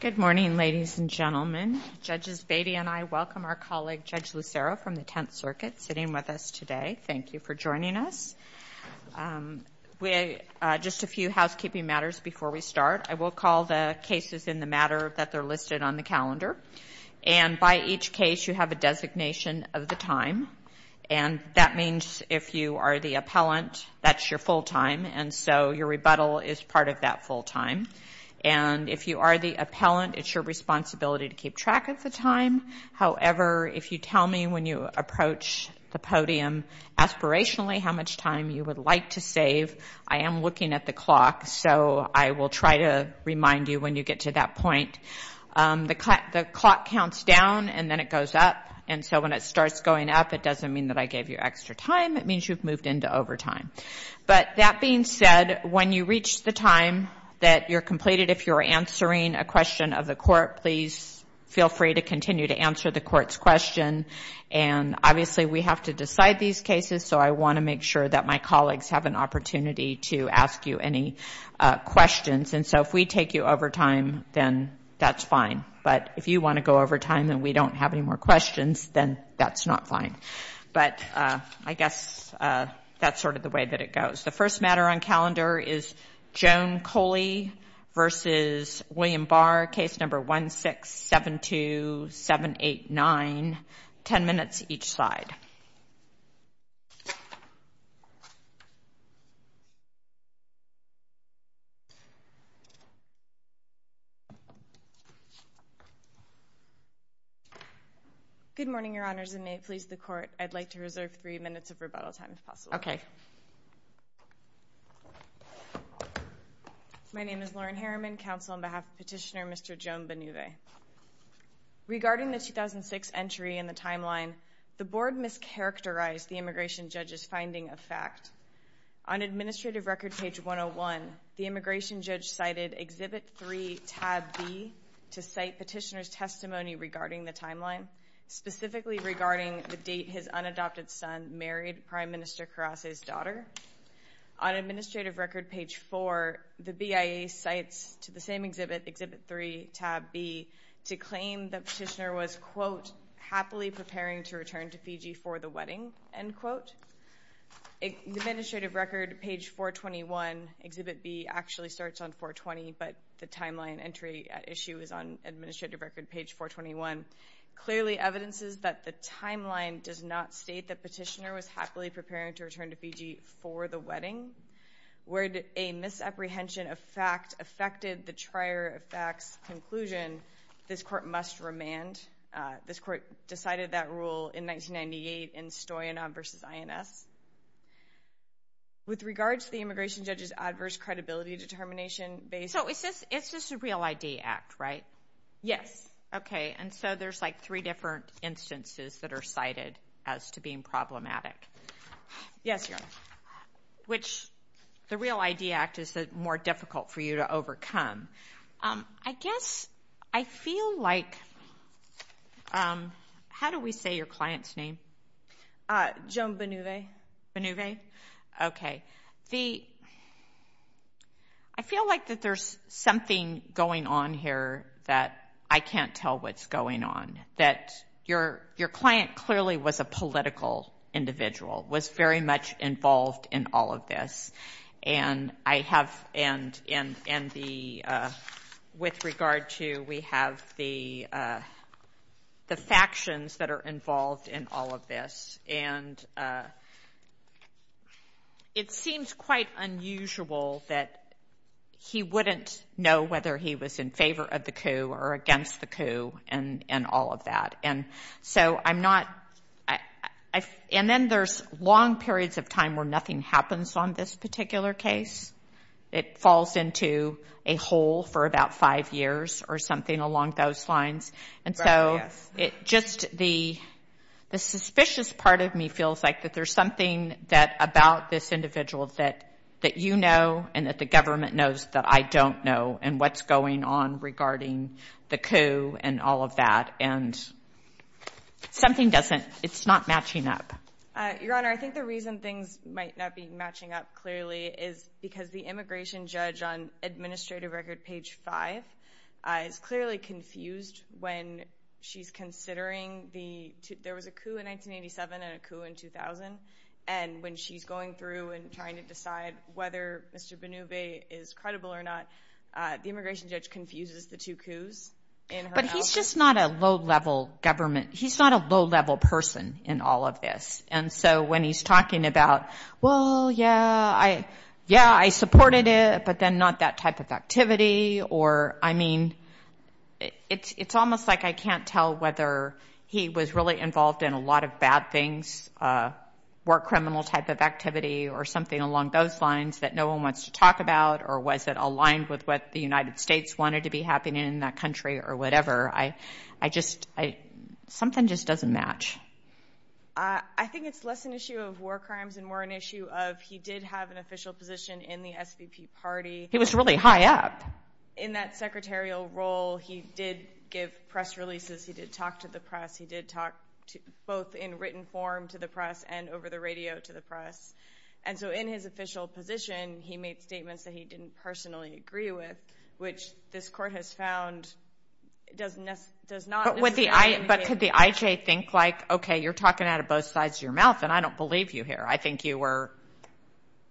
Good morning, ladies and gentlemen. Judges Beatty and I welcome our colleague Judge Lucero from the Tenth Circuit sitting with us today. Thank you for joining us. Just a few housekeeping matters before we start. I will call the cases in the matter that they're listed on the calendar. And by each case, you have a designation of the time, and that means if you are the appellant, that's your full time, and so your rebuttal is part of that full time. And if you are the appellant, it's your responsibility to keep track of the time. However, if you tell me when you approach the podium aspirationally how much time you would like to save, I am looking at the clock, so I will try to remind you when you get to that point. The clock counts down, and then it goes up. And so when it starts going up, it doesn't mean that I gave you extra time. It means you've moved into overtime. But that being said, when you reach the time that you're completed, if you're answering a question of the court, please feel free to continue to answer the court's question. And obviously, we have to decide these cases, so I want to make sure that my colleagues have an opportunity to ask you any questions. And so if we take you overtime, then that's fine. But if you want to go overtime and we don't have any more questions, then that's not fine. But I guess that's sort of the way that it goes. The first matter on calendar is Joan Coley v. William Barr, case number 1672789. Ten minutes each side. Good morning, Your Honors, and may it please the Court, I'd like to reserve three minutes of rebuttal time if possible. Okay. My name is Lauren Harriman, counsel on behalf of Petitioner Mr. Joan Benueve. Regarding the 2006 entry in the timeline, I just characterized the immigration judge's finding of fact. On Administrative Record page 101, the immigration judge cited Exhibit 3, tab B, to cite Petitioner's testimony regarding the timeline, specifically regarding the date his unadopted son married Prime Minister Karase's daughter. On Administrative Record page 4, the BIA cites to the same exhibit, Exhibit 3, tab B, to claim that Petitioner was, quote, happily preparing to return to Fiji for the wedding, end quote. Administrative Record page 421, Exhibit B actually starts on 420, but the timeline entry issue is on Administrative Record page 421, clearly evidences that the timeline does not state that Petitioner was happily preparing to return to Fiji for the wedding. Where a misapprehension of fact affected the trier of facts conclusion, this court must remand. This court decided that rule in 1998 in Stoyanov v. INS. With regards to the immigration judge's adverse credibility determination-based- So it's just a Real ID Act, right? Yes. Okay, and so there's, like, three different instances that are cited as to being problematic. Yes, Your Honor. Which the Real ID Act is more difficult for you to overcome. I guess I feel like- how do we say your client's name? Joan Benueve. Benueve? Okay. I feel like that there's something going on here that I can't tell what's going on, that your client clearly was a political individual, was very much involved in all of this, and I have- and the- with regard to we have the factions that are involved in all of this, and it seems quite unusual that he wouldn't know whether he was in favor of the coup or against the coup and all of that. And so I'm not- and then there's long periods of time where nothing happens on this particular case. It falls into a hole for about five years or something along those lines. And so it just- the suspicious part of me feels like that there's something that- about this individual that you know and that the government knows that I don't know and what's going on regarding the coup and all of that. And something doesn't- it's not matching up. Your Honor, I think the reason things might not be matching up clearly is because the immigration judge on administrative record page 5 is clearly confused when she's considering the- there was a coup in 1987 and a coup in 2000, and when she's going through and trying to decide whether Mr. Benueve is credible or not, the immigration judge confuses the two coups in her- But he's just not a low-level government- he's not a low-level person in all of this. And so when he's talking about, well, yeah, I supported it, but then not that type of activity, or, I mean, it's almost like I can't tell whether he was really involved in a lot of bad things, war criminal type of activity or something along those lines that no one wants to talk about, or was it aligned with what the United States wanted to be happening in that country or whatever. I just- something just doesn't match. I think it's less an issue of war crimes and more an issue of he did have an official position in the SVP party. He was really high up. In that secretarial role, he did give press releases. He did talk to the press. He did talk both in written form to the press and over the radio to the press. And so in his official position, he made statements that he didn't personally agree with, which this court has found does not necessarily indicate- But could the IJ think like, okay, you're talking out of both sides of your mouth, and I don't believe you here. I think you were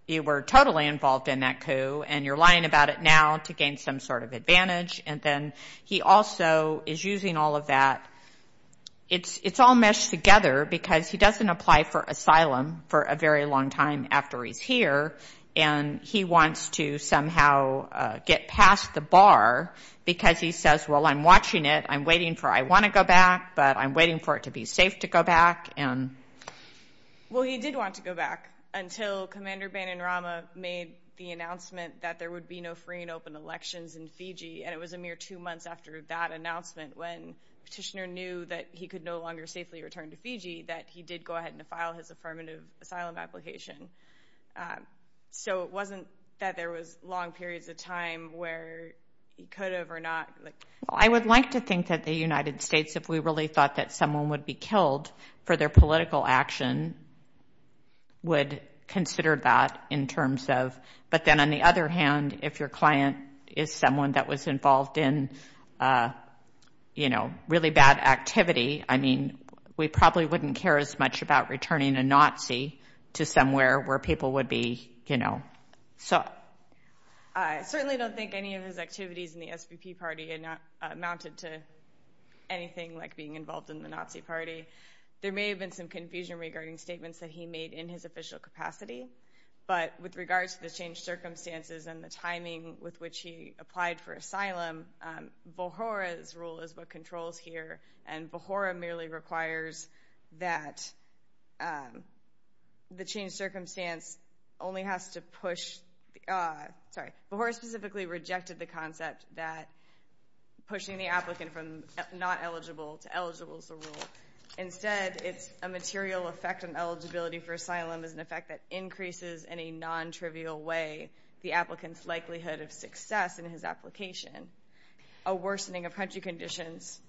totally involved in that coup, and you're lying about it now to gain some sort of advantage. And then he also is using all of that. It's all meshed together because he doesn't apply for asylum for a very long time after he's here, and he wants to somehow get past the bar because he says, well, I'm watching it. I'm waiting for- I want to go back, but I'm waiting for it to be safe to go back. Well, he did want to go back until Commander Bananrama made the announcement that there would be no free and open elections in Fiji, and it was a mere two months after that announcement when Petitioner knew that he could no longer safely return to Fiji that he did go ahead and file his affirmative asylum application. So it wasn't that there was long periods of time where he could have or not. Well, I would like to think that the United States, if we really thought that someone would be killed for their political action, would consider that in terms of- but then on the other hand, if your client is someone that was involved in, you know, really bad activity, I mean, we probably wouldn't care as much about returning a Nazi to somewhere where people would be, you know- So I certainly don't think any of his activities in the SVP party amounted to anything like being involved in the Nazi party. There may have been some confusion regarding statements that he made in his official capacity, but with regards to the changed circumstances and the timing with which he applied for asylum, Bohora's rule is what controls here, and Bohora merely requires that the changed circumstance only has to push- sorry, Bohora specifically rejected the concept that pushing the applicant from not eligible to eligible is the rule. Instead, it's a material effect on eligibility for asylum is an effect that increases in a non-trivial way the applicant's likelihood of success in his application. A worsening of country conditions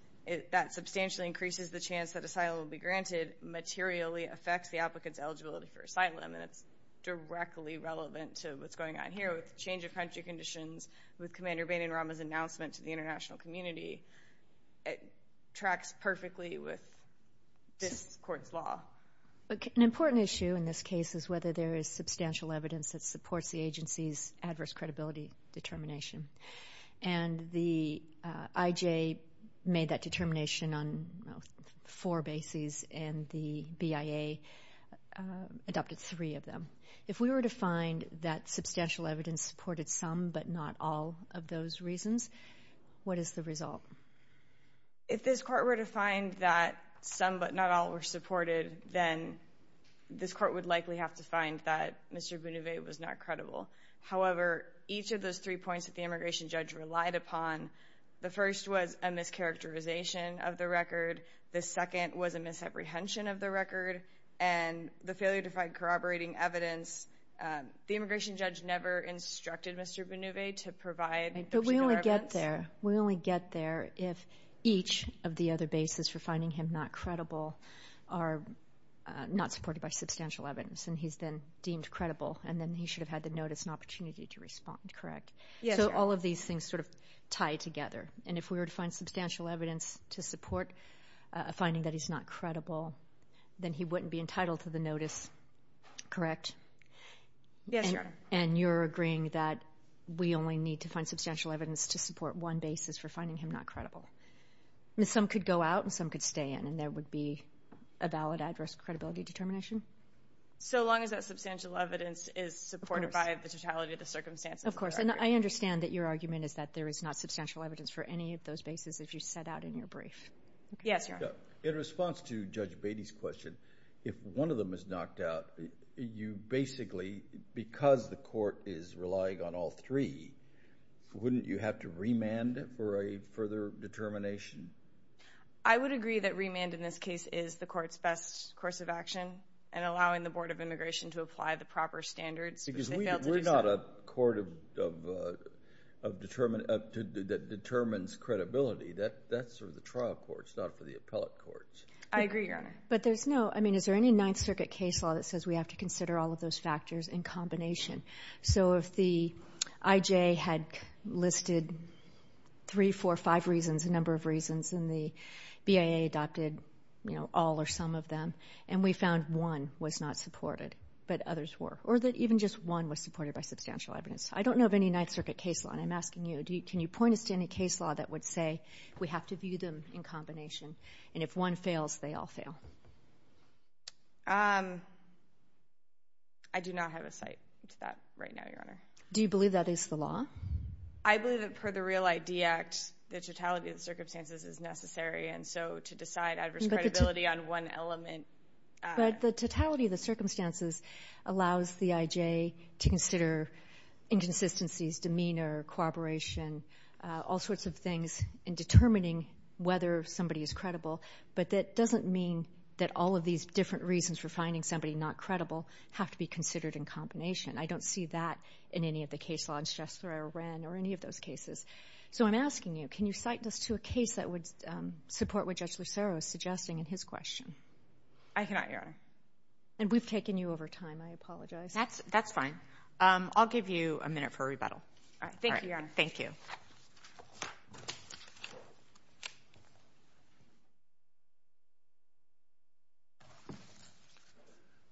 that substantially increases the chance that asylum will be granted materially affects the applicant's eligibility for asylum, and it's directly relevant to what's going on here with the change of country conditions, with Commander Bain and Rama's announcement to the international community. It tracks perfectly with this court's law. An important issue in this case is whether there is substantial evidence that supports the agency's adverse credibility determination, and the IJ made that determination on four bases, and the BIA adopted three of them. If we were to find that substantial evidence supported some but not all of those reasons, what is the result? If this court were to find that some but not all were supported, then this court would likely have to find that Mr. Benueve was not credible. However, each of those three points that the immigration judge relied upon, the first was a mischaracterization of the record, the second was a misapprehension of the record, and the failure to find corroborating evidence, the immigration judge never instructed Mr. Benueve to provide- But we only get there if each of the other bases for finding him not credible are not supported by substantial evidence, and he's then deemed credible, and then he should have had the notice and opportunity to respond, correct? Yes, Your Honor. So all of these things sort of tie together. And if we were to find substantial evidence to support a finding that he's not credible, then he wouldn't be entitled to the notice, correct? Yes, Your Honor. And you're agreeing that we only need to find substantial evidence to support one basis for finding him not credible. Some could go out and some could stay in, and there would be a valid address credibility determination? So long as that substantial evidence is supported by the totality of the circumstances. Of course. And I understand that your argument is that there is not substantial evidence for any of those bases if you set out in your brief. Yes, Your Honor. In response to Judge Beatty's question, if one of them is knocked out, you basically, because the court is relying on all three, wouldn't you have to remand for a further determination? I would agree that remand in this case is the court's best course of action and allowing the Board of Immigration to apply the proper standards. Because we're not a court that determines credibility. That's sort of the trial courts, not for the appellate courts. I agree, Your Honor. But there's no, I mean, is there any Ninth Circuit case law that says we have to consider all of those factors in combination? So if the IJ had listed three, four, five reasons, a number of reasons, and the BIA adopted, you know, all or some of them, and we found one was not supported, but others were. Or that even just one was supported by substantial evidence. I don't know of any Ninth Circuit case law. And I'm asking you, can you point us to any case law that would say we have to view them in combination? And if one fails, they all fail. I do not have a cite to that right now, Your Honor. Do you believe that is the law? I believe that per the Real ID Act, the totality of the circumstances is necessary. And so to decide adverse credibility on one element. But the totality of the circumstances allows the IJ to consider inconsistencies, demeanor, corroboration, all sorts of things in determining whether somebody is credible. But that doesn't mean that all of these different reasons for finding somebody not credible have to be considered in combination. I don't see that in any of the case law in Shastra or Wren or any of those cases. So I'm asking you, can you cite us to a case that would support what Judge Lucero is suggesting in his question? I cannot, Your Honor. And we've taken you over time. I apologize. That's fine. I'll give you a minute for rebuttal. All right. Thank you, Your Honor. Thank you.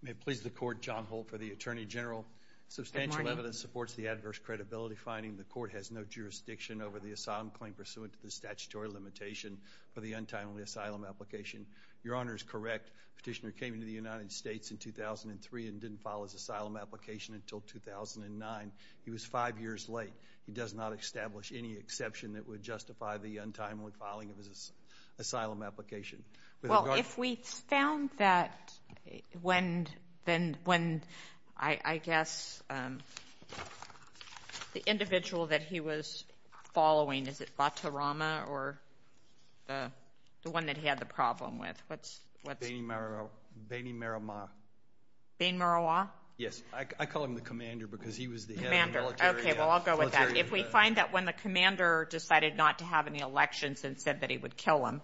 May it please the Court, John Holt for the Attorney General. Good morning. Substantial evidence supports the adverse credibility finding. The Court has no jurisdiction over the asylum claim pursuant to the statutory limitation for the untimely asylum application. Your Honor is correct. Petitioner came into the United States in 2003 and didn't file his asylum application until 2009. He was five years late. He does not establish any exception that would justify the untimely filing of his asylum application. Well, if we found that when I guess the individual that he was following, is it Batarama or the one that he had the problem with? What's? Beni Marawa. Beni Marawa. Beni Marawa? Yes. I call him the commander because he was the head of the military. Commander. Okay. Well, I'll go with that. If we find that when the commander decided not to have any elections and said that he would kill him,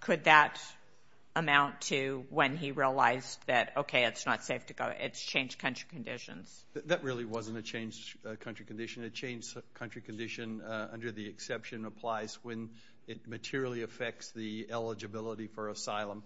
could that amount to when he realized that, okay, it's not safe to go, it's changed country conditions? That really wasn't a changed country condition. A changed country condition under the exception applies when it materially affects the eligibility for asylum.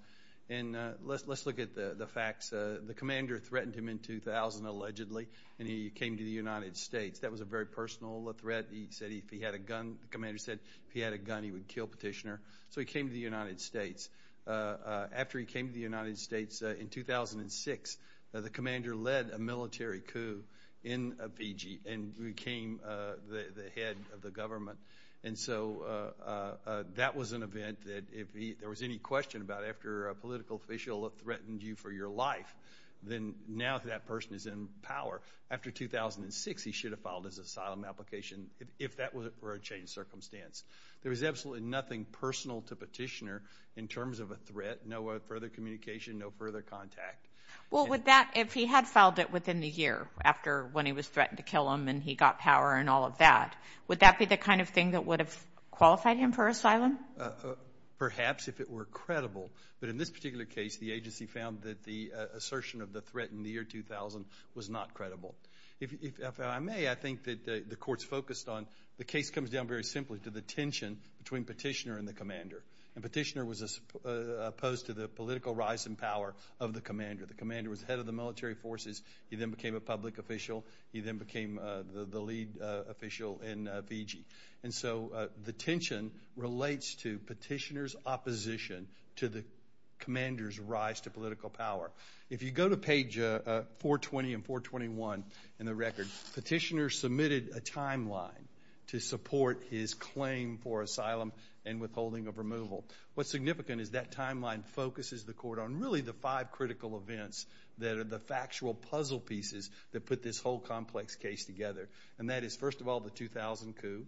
And let's look at the facts. The commander threatened him in 2000, allegedly, and he came to the United States. That was a very personal threat. He said if he had a gun, the commander said if he had a gun he would kill Petitioner. So he came to the United States. After he came to the United States in 2006, the commander led a military coup in Fiji and became the head of the government. And so that was an event that if there was any question about after a political official threatened you for your life, then now that person is in power. After 2006, he should have filed his asylum application if that were a changed circumstance. There was absolutely nothing personal to Petitioner in terms of a threat, no further communication, no further contact. Well, would that, if he had filed it within the year after when he was threatened to kill him and he got power and all of that, would that be the kind of thing that would have qualified him for asylum? Perhaps if it were credible. But in this particular case, the agency found that the assertion of the threat in the year 2000 was not credible. If I may, I think that the court's focused on the case comes down very simply to the tension between Petitioner and the commander. And Petitioner was opposed to the political rise in power of the commander. The commander was head of the military forces. He then became a public official. He then became the lead official in Fiji. And so the tension relates to Petitioner's opposition to the commander's rise to political power. If you go to page 420 and 421 in the record, Petitioner submitted a timeline to support his claim for asylum and withholding of removal. What's significant is that timeline focuses the court on really the five critical events that are the factual puzzle pieces that put this whole complex case together. And that is, first of all, the 2000 coup.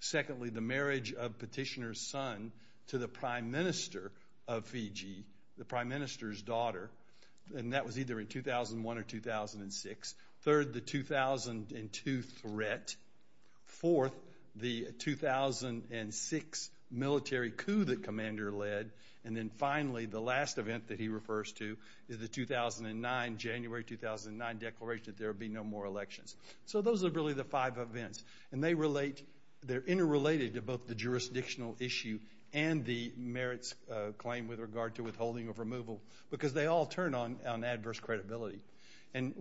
Secondly, the marriage of Petitioner's son to the prime minister of Fiji, the prime minister's daughter. And that was either in 2001 or 2006. Third, the 2002 threat. Fourth, the 2006 military coup that commander led. And then finally, the last event that he refers to is the 2009, January 2009 declaration that there would be no more elections. So those are really the five events. And they relate, they're interrelated to both the jurisdictional issue and the merits claim with regard to withholding of removal because they all turn on adverse credibility. And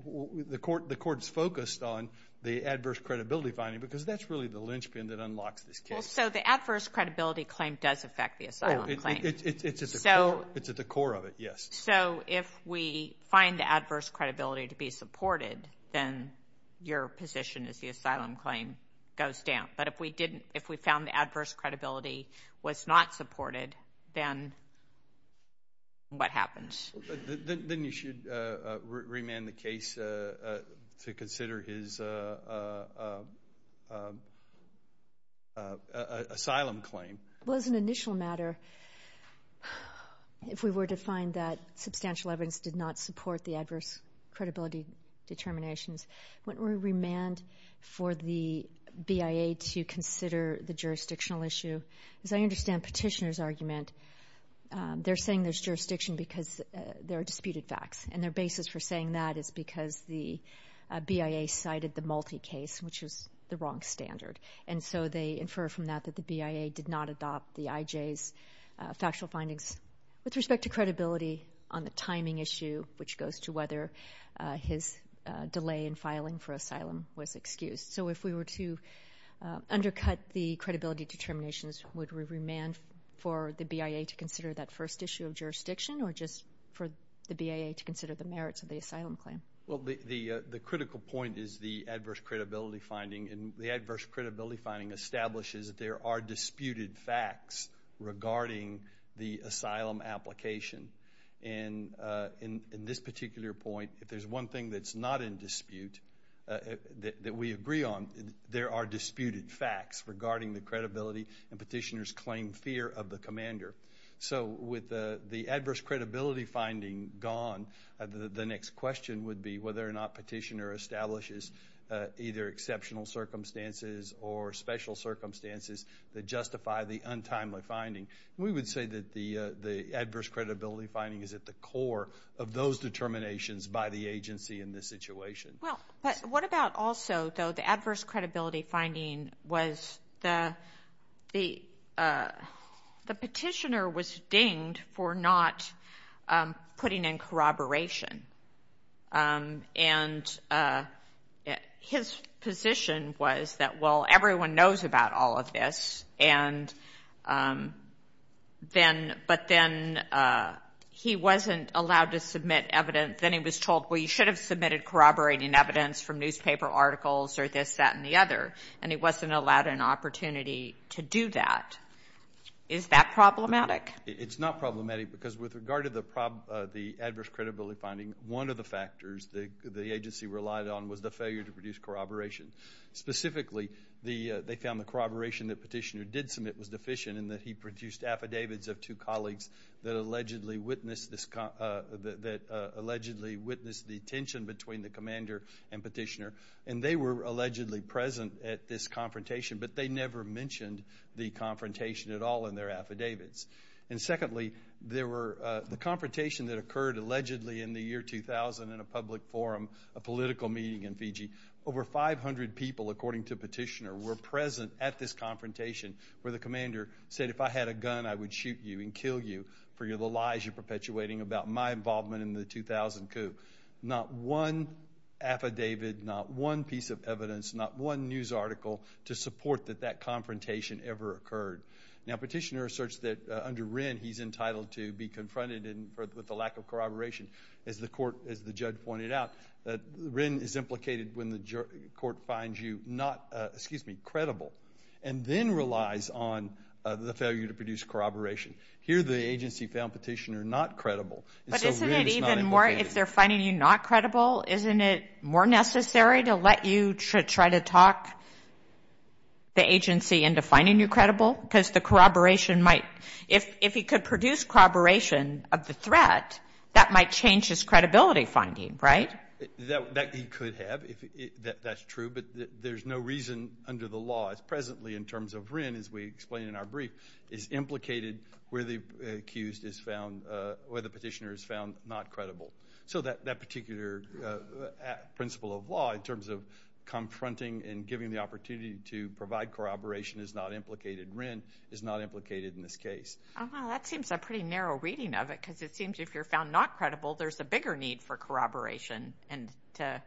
the court is focused on the adverse credibility finding because that's really the linchpin that unlocks this case. Well, so the adverse credibility claim does affect the asylum claim. Oh, it's at the core of it, yes. So if we find the adverse credibility to be supported, then your position is the asylum claim goes down. But if we didn't, if we found the adverse credibility was not supported, then what happens? Then you should remand the case to consider his asylum claim. Well, as an initial matter, if we were to find that substantial evidence did not support the adverse credibility determinations, wouldn't we remand for the BIA to consider the jurisdictional issue? As I understand Petitioner's argument, they're saying there's jurisdiction because there are disputed facts. And their basis for saying that is because the BIA cited the multi-case, which is the wrong standard. And so they infer from that that the BIA did not adopt the IJ's factual findings. With respect to credibility on the timing issue, which goes to whether his delay in filing for asylum was excused. So if we were to undercut the credibility determinations, would we remand for the BIA to consider that first issue of jurisdiction or just for the BIA to consider the merits of the asylum claim? Well, the critical point is the adverse credibility finding. And the adverse credibility finding establishes that there are disputed facts regarding the asylum application. And in this particular point, if there's one thing that's not in dispute, that we agree on, there are disputed facts regarding the credibility and Petitioner's claimed fear of the commander. So with the adverse credibility finding gone, the next question would be whether or not Petitioner establishes either exceptional circumstances or special circumstances that justify the untimely finding. We would say that the adverse credibility finding is at the core of those determinations by the agency in this situation. Well, but what about also, though, the adverse credibility finding was the Petitioner was dinged for not putting in corroboration. And his position was that, well, everyone knows about all of this, but then he wasn't allowed to submit evidence. Then he was told, well, you should have submitted corroborating evidence from newspaper articles or this, that, and the other, and he wasn't allowed an opportunity to do that. Is that problematic? It's not problematic because with regard to the adverse credibility finding, one of the factors the agency relied on was the failure to produce corroboration. Specifically, they found the corroboration that Petitioner did submit was deficient in that he produced affidavits of two colleagues that allegedly witnessed the tension between the commander and Petitioner, and they were allegedly present at this confrontation, but they never mentioned the confrontation at all in their affidavits. And secondly, the confrontation that occurred allegedly in the year 2000 in a public forum, a political meeting in Fiji, over 500 people, according to Petitioner, were present at this confrontation where the commander said, if I had a gun, I would shoot you and kill you for the lies you're perpetuating about my involvement in the 2000 coup. Not one affidavit, not one piece of evidence, not one news article to support that that confrontation ever occurred. Now, Petitioner asserts that under Wren, he's entitled to be confronted with the lack of corroboration. As the court, as the judge pointed out, Wren is implicated when the court finds you not, excuse me, credible, and then relies on the failure to produce corroboration. Here, the agency found Petitioner not credible, and so Wren is not implicated. But isn't it even more, if they're finding you not credible, isn't it more necessary to let you try to talk the agency into finding you credible? Because the corroboration might, if he could produce corroboration of the threat, that might change his credibility finding, right? That he could have, that's true, but there's no reason under the law as presently in terms of Wren, as we explained in our brief, is implicated where the accused is found, where the Petitioner is found not credible. So that particular principle of law, in terms of confronting and giving the opportunity to provide corroboration, is not implicated, Wren is not implicated in this case. Oh, wow, that seems a pretty narrow reading of it, because it seems if you're found not credible, there's a bigger need for corroboration and to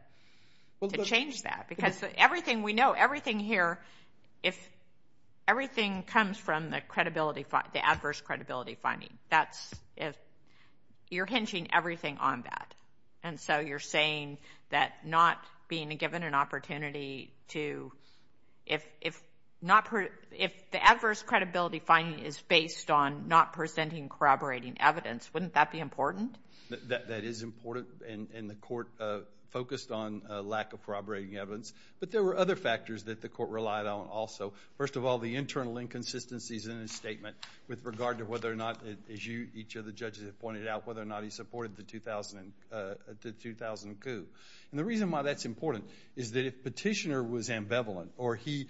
change that. Because everything we know, everything here, if everything comes from the credibility, the adverse credibility finding, that's if you're hinging everything on that. And so you're saying that not being given an opportunity to, if the adverse credibility finding is based on not presenting corroborating evidence, wouldn't that be important? That is important, and the court focused on lack of corroborating evidence. But there were other factors that the court relied on also. First of all, the internal inconsistencies in his statement with regard to whether or not, as each of the judges have pointed out, whether or not he supported the 2000 coup. And the reason why that's important is that if Petitioner was ambivalent or he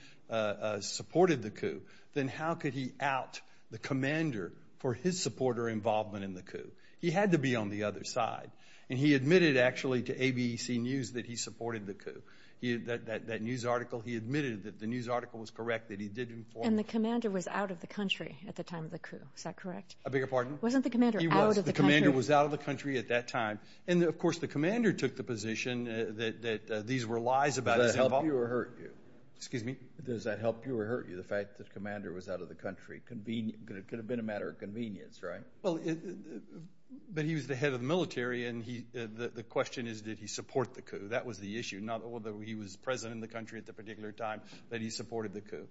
supported the coup, then how could he out the commander for his support or involvement in the coup? He had to be on the other side. And he admitted, actually, to ABC News that he supported the coup. That news article, he admitted that the news article was correct, that he did inform. And the commander was out of the country at the time of the coup. Is that correct? A bigger pardon? Wasn't the commander out of the country? He was. The commander was out of the country at that time. And, of course, the commander took the position that these were lies about his involvement. Does that help you or hurt you? Excuse me? Does that help you or hurt you, the fact that the commander was out of the country? It could have been a matter of convenience, right? Well, but he was the head of the military, and the question is, did he support the coup? That was the issue, not whether he was present in the country at the particular time that he supported the coup.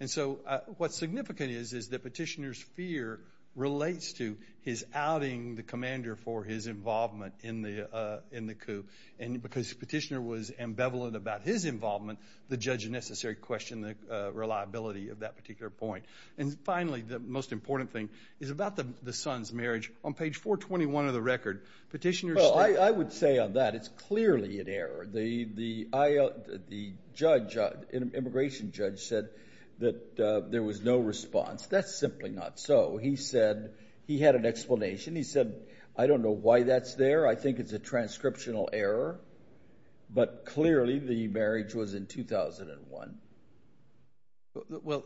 And so what's significant is that Petitioner's fear relates to his outing the commander for his involvement in the coup. And because Petitioner was ambivalent about his involvement, the judge necessarily questioned the reliability of that particular point. And, finally, the most important thing is about the son's marriage. On page 421 of the record, Petitioner said – Well, I would say on that it's clearly an error. The judge, immigration judge, said that there was no response. That's simply not so. He said – he had an explanation. He said, I don't know why that's there. I think it's a transcriptional error. But, clearly, the marriage was in 2001. Well,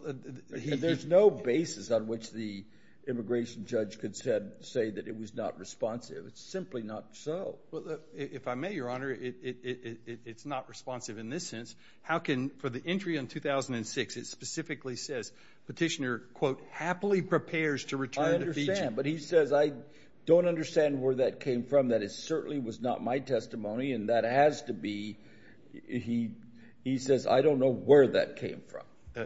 there's no basis on which the immigration judge could say that it was not responsive. It's simply not so. Well, if I may, Your Honor, it's not responsive in this sense. How can – for the entry in 2006, it specifically says Petitioner, quote, happily prepares to return to Fiji. I understand. But he says, I don't understand where that came from. That it certainly was not my testimony. And that has to be – he says, I don't know where that came from.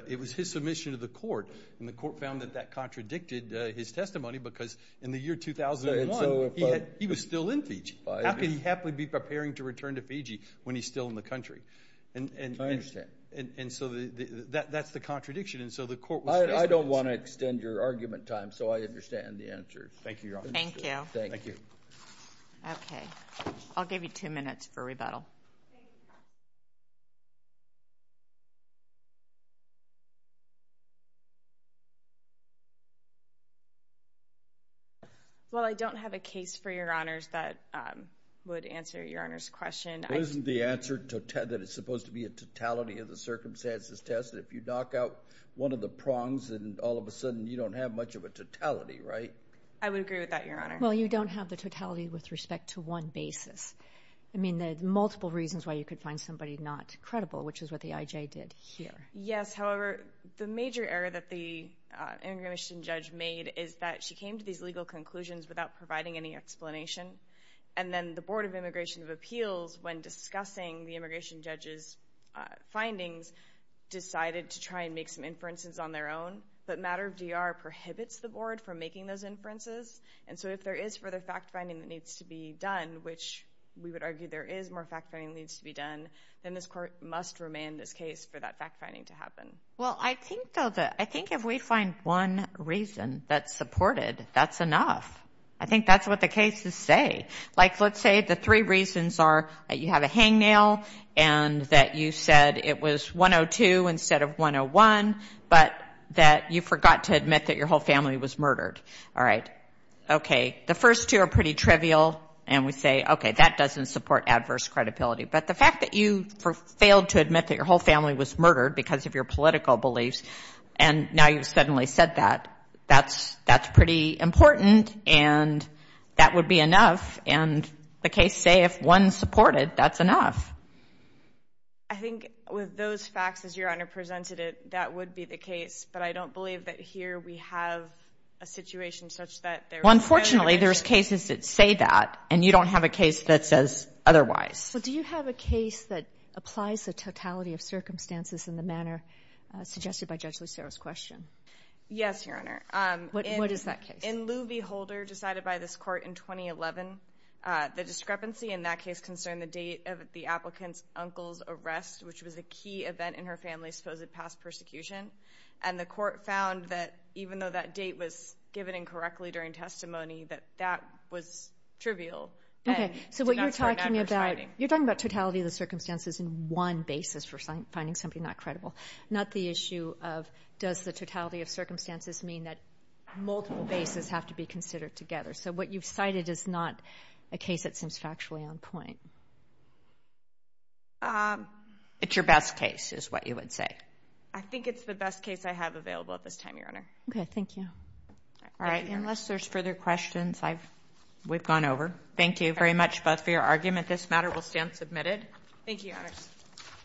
It was his submission to the court. And the court found that that contradicted his testimony because, in the year 2001, he was still in Fiji. How could he happily be preparing to return to Fiji when he's still in the country? I understand. And so that's the contradiction. And so the court was – I don't want to extend your argument time, so I understand the answer. Thank you, Your Honor. Thank you. Thank you. Okay. I'll give you two minutes for rebuttal. Thank you. Well, I don't have a case for Your Honors that would answer Your Honor's question. Isn't the answer that it's supposed to be a totality of the circumstances test? If you knock out one of the prongs, then all of a sudden you don't have much of a totality, right? I would agree with that, Your Honor. Well, you don't have the totality with respect to one basis. I mean, there are multiple reasons why you could find somebody not credible, which is what the IJ did here. Yes. However, the major error that the immigration judge made is that she came to these legal conclusions without providing any explanation. And then the Board of Immigration of Appeals, when discussing the immigration judge's findings, decided to try and make some inferences on their own. But matter of DR prohibits the board from making those inferences. And so if there is further fact-finding that needs to be done, which we would argue there is more fact-finding that needs to be done, then this court must remain in this case for that fact-finding to happen. Well, I think if we find one reason that's supported, that's enough. I think that's what the cases say. Like, let's say the three reasons are that you have a hangnail and that you said it was 102 instead of 101, but that you forgot to admit that your whole family was murdered. All right. Okay. The first two are pretty trivial, and we say, okay, that doesn't support adverse credibility. But the fact that you failed to admit that your whole family was murdered because of your political beliefs, and now you've suddenly said that, that's pretty important, and that would be enough. And the case say if one supported, that's enough. I think with those facts, as Your Honor presented it, that would be the case. But I don't believe that here we have a situation such that there is further evidence. Well, unfortunately, there's cases that say that, and you don't have a case that says otherwise. But do you have a case that applies the totality of circumstances in the manner suggested by Judge Lucero's question? Yes, Your Honor. What is that case? In Lou V. Holder, decided by this court in 2011, the discrepancy in that case concerned the date of the applicant's uncle's arrest, which was a key event in her family's supposed past persecution. And the court found that even though that date was given incorrectly during testimony, that that was trivial. Okay. So what you're talking about, you're talking about totality of the circumstances in one basis for finding somebody not credible, not the issue of does the totality of circumstances mean that multiple bases have to be considered together. So what you've cited is not a case that seems factually on point. It's your best case, is what you would say. I think it's the best case I have available at this time, Your Honor. Okay. Thank you. All right. Unless there's further questions, we've gone over. Thank you very much both for your argument. This matter will stand submitted. Thank you, Your Honors.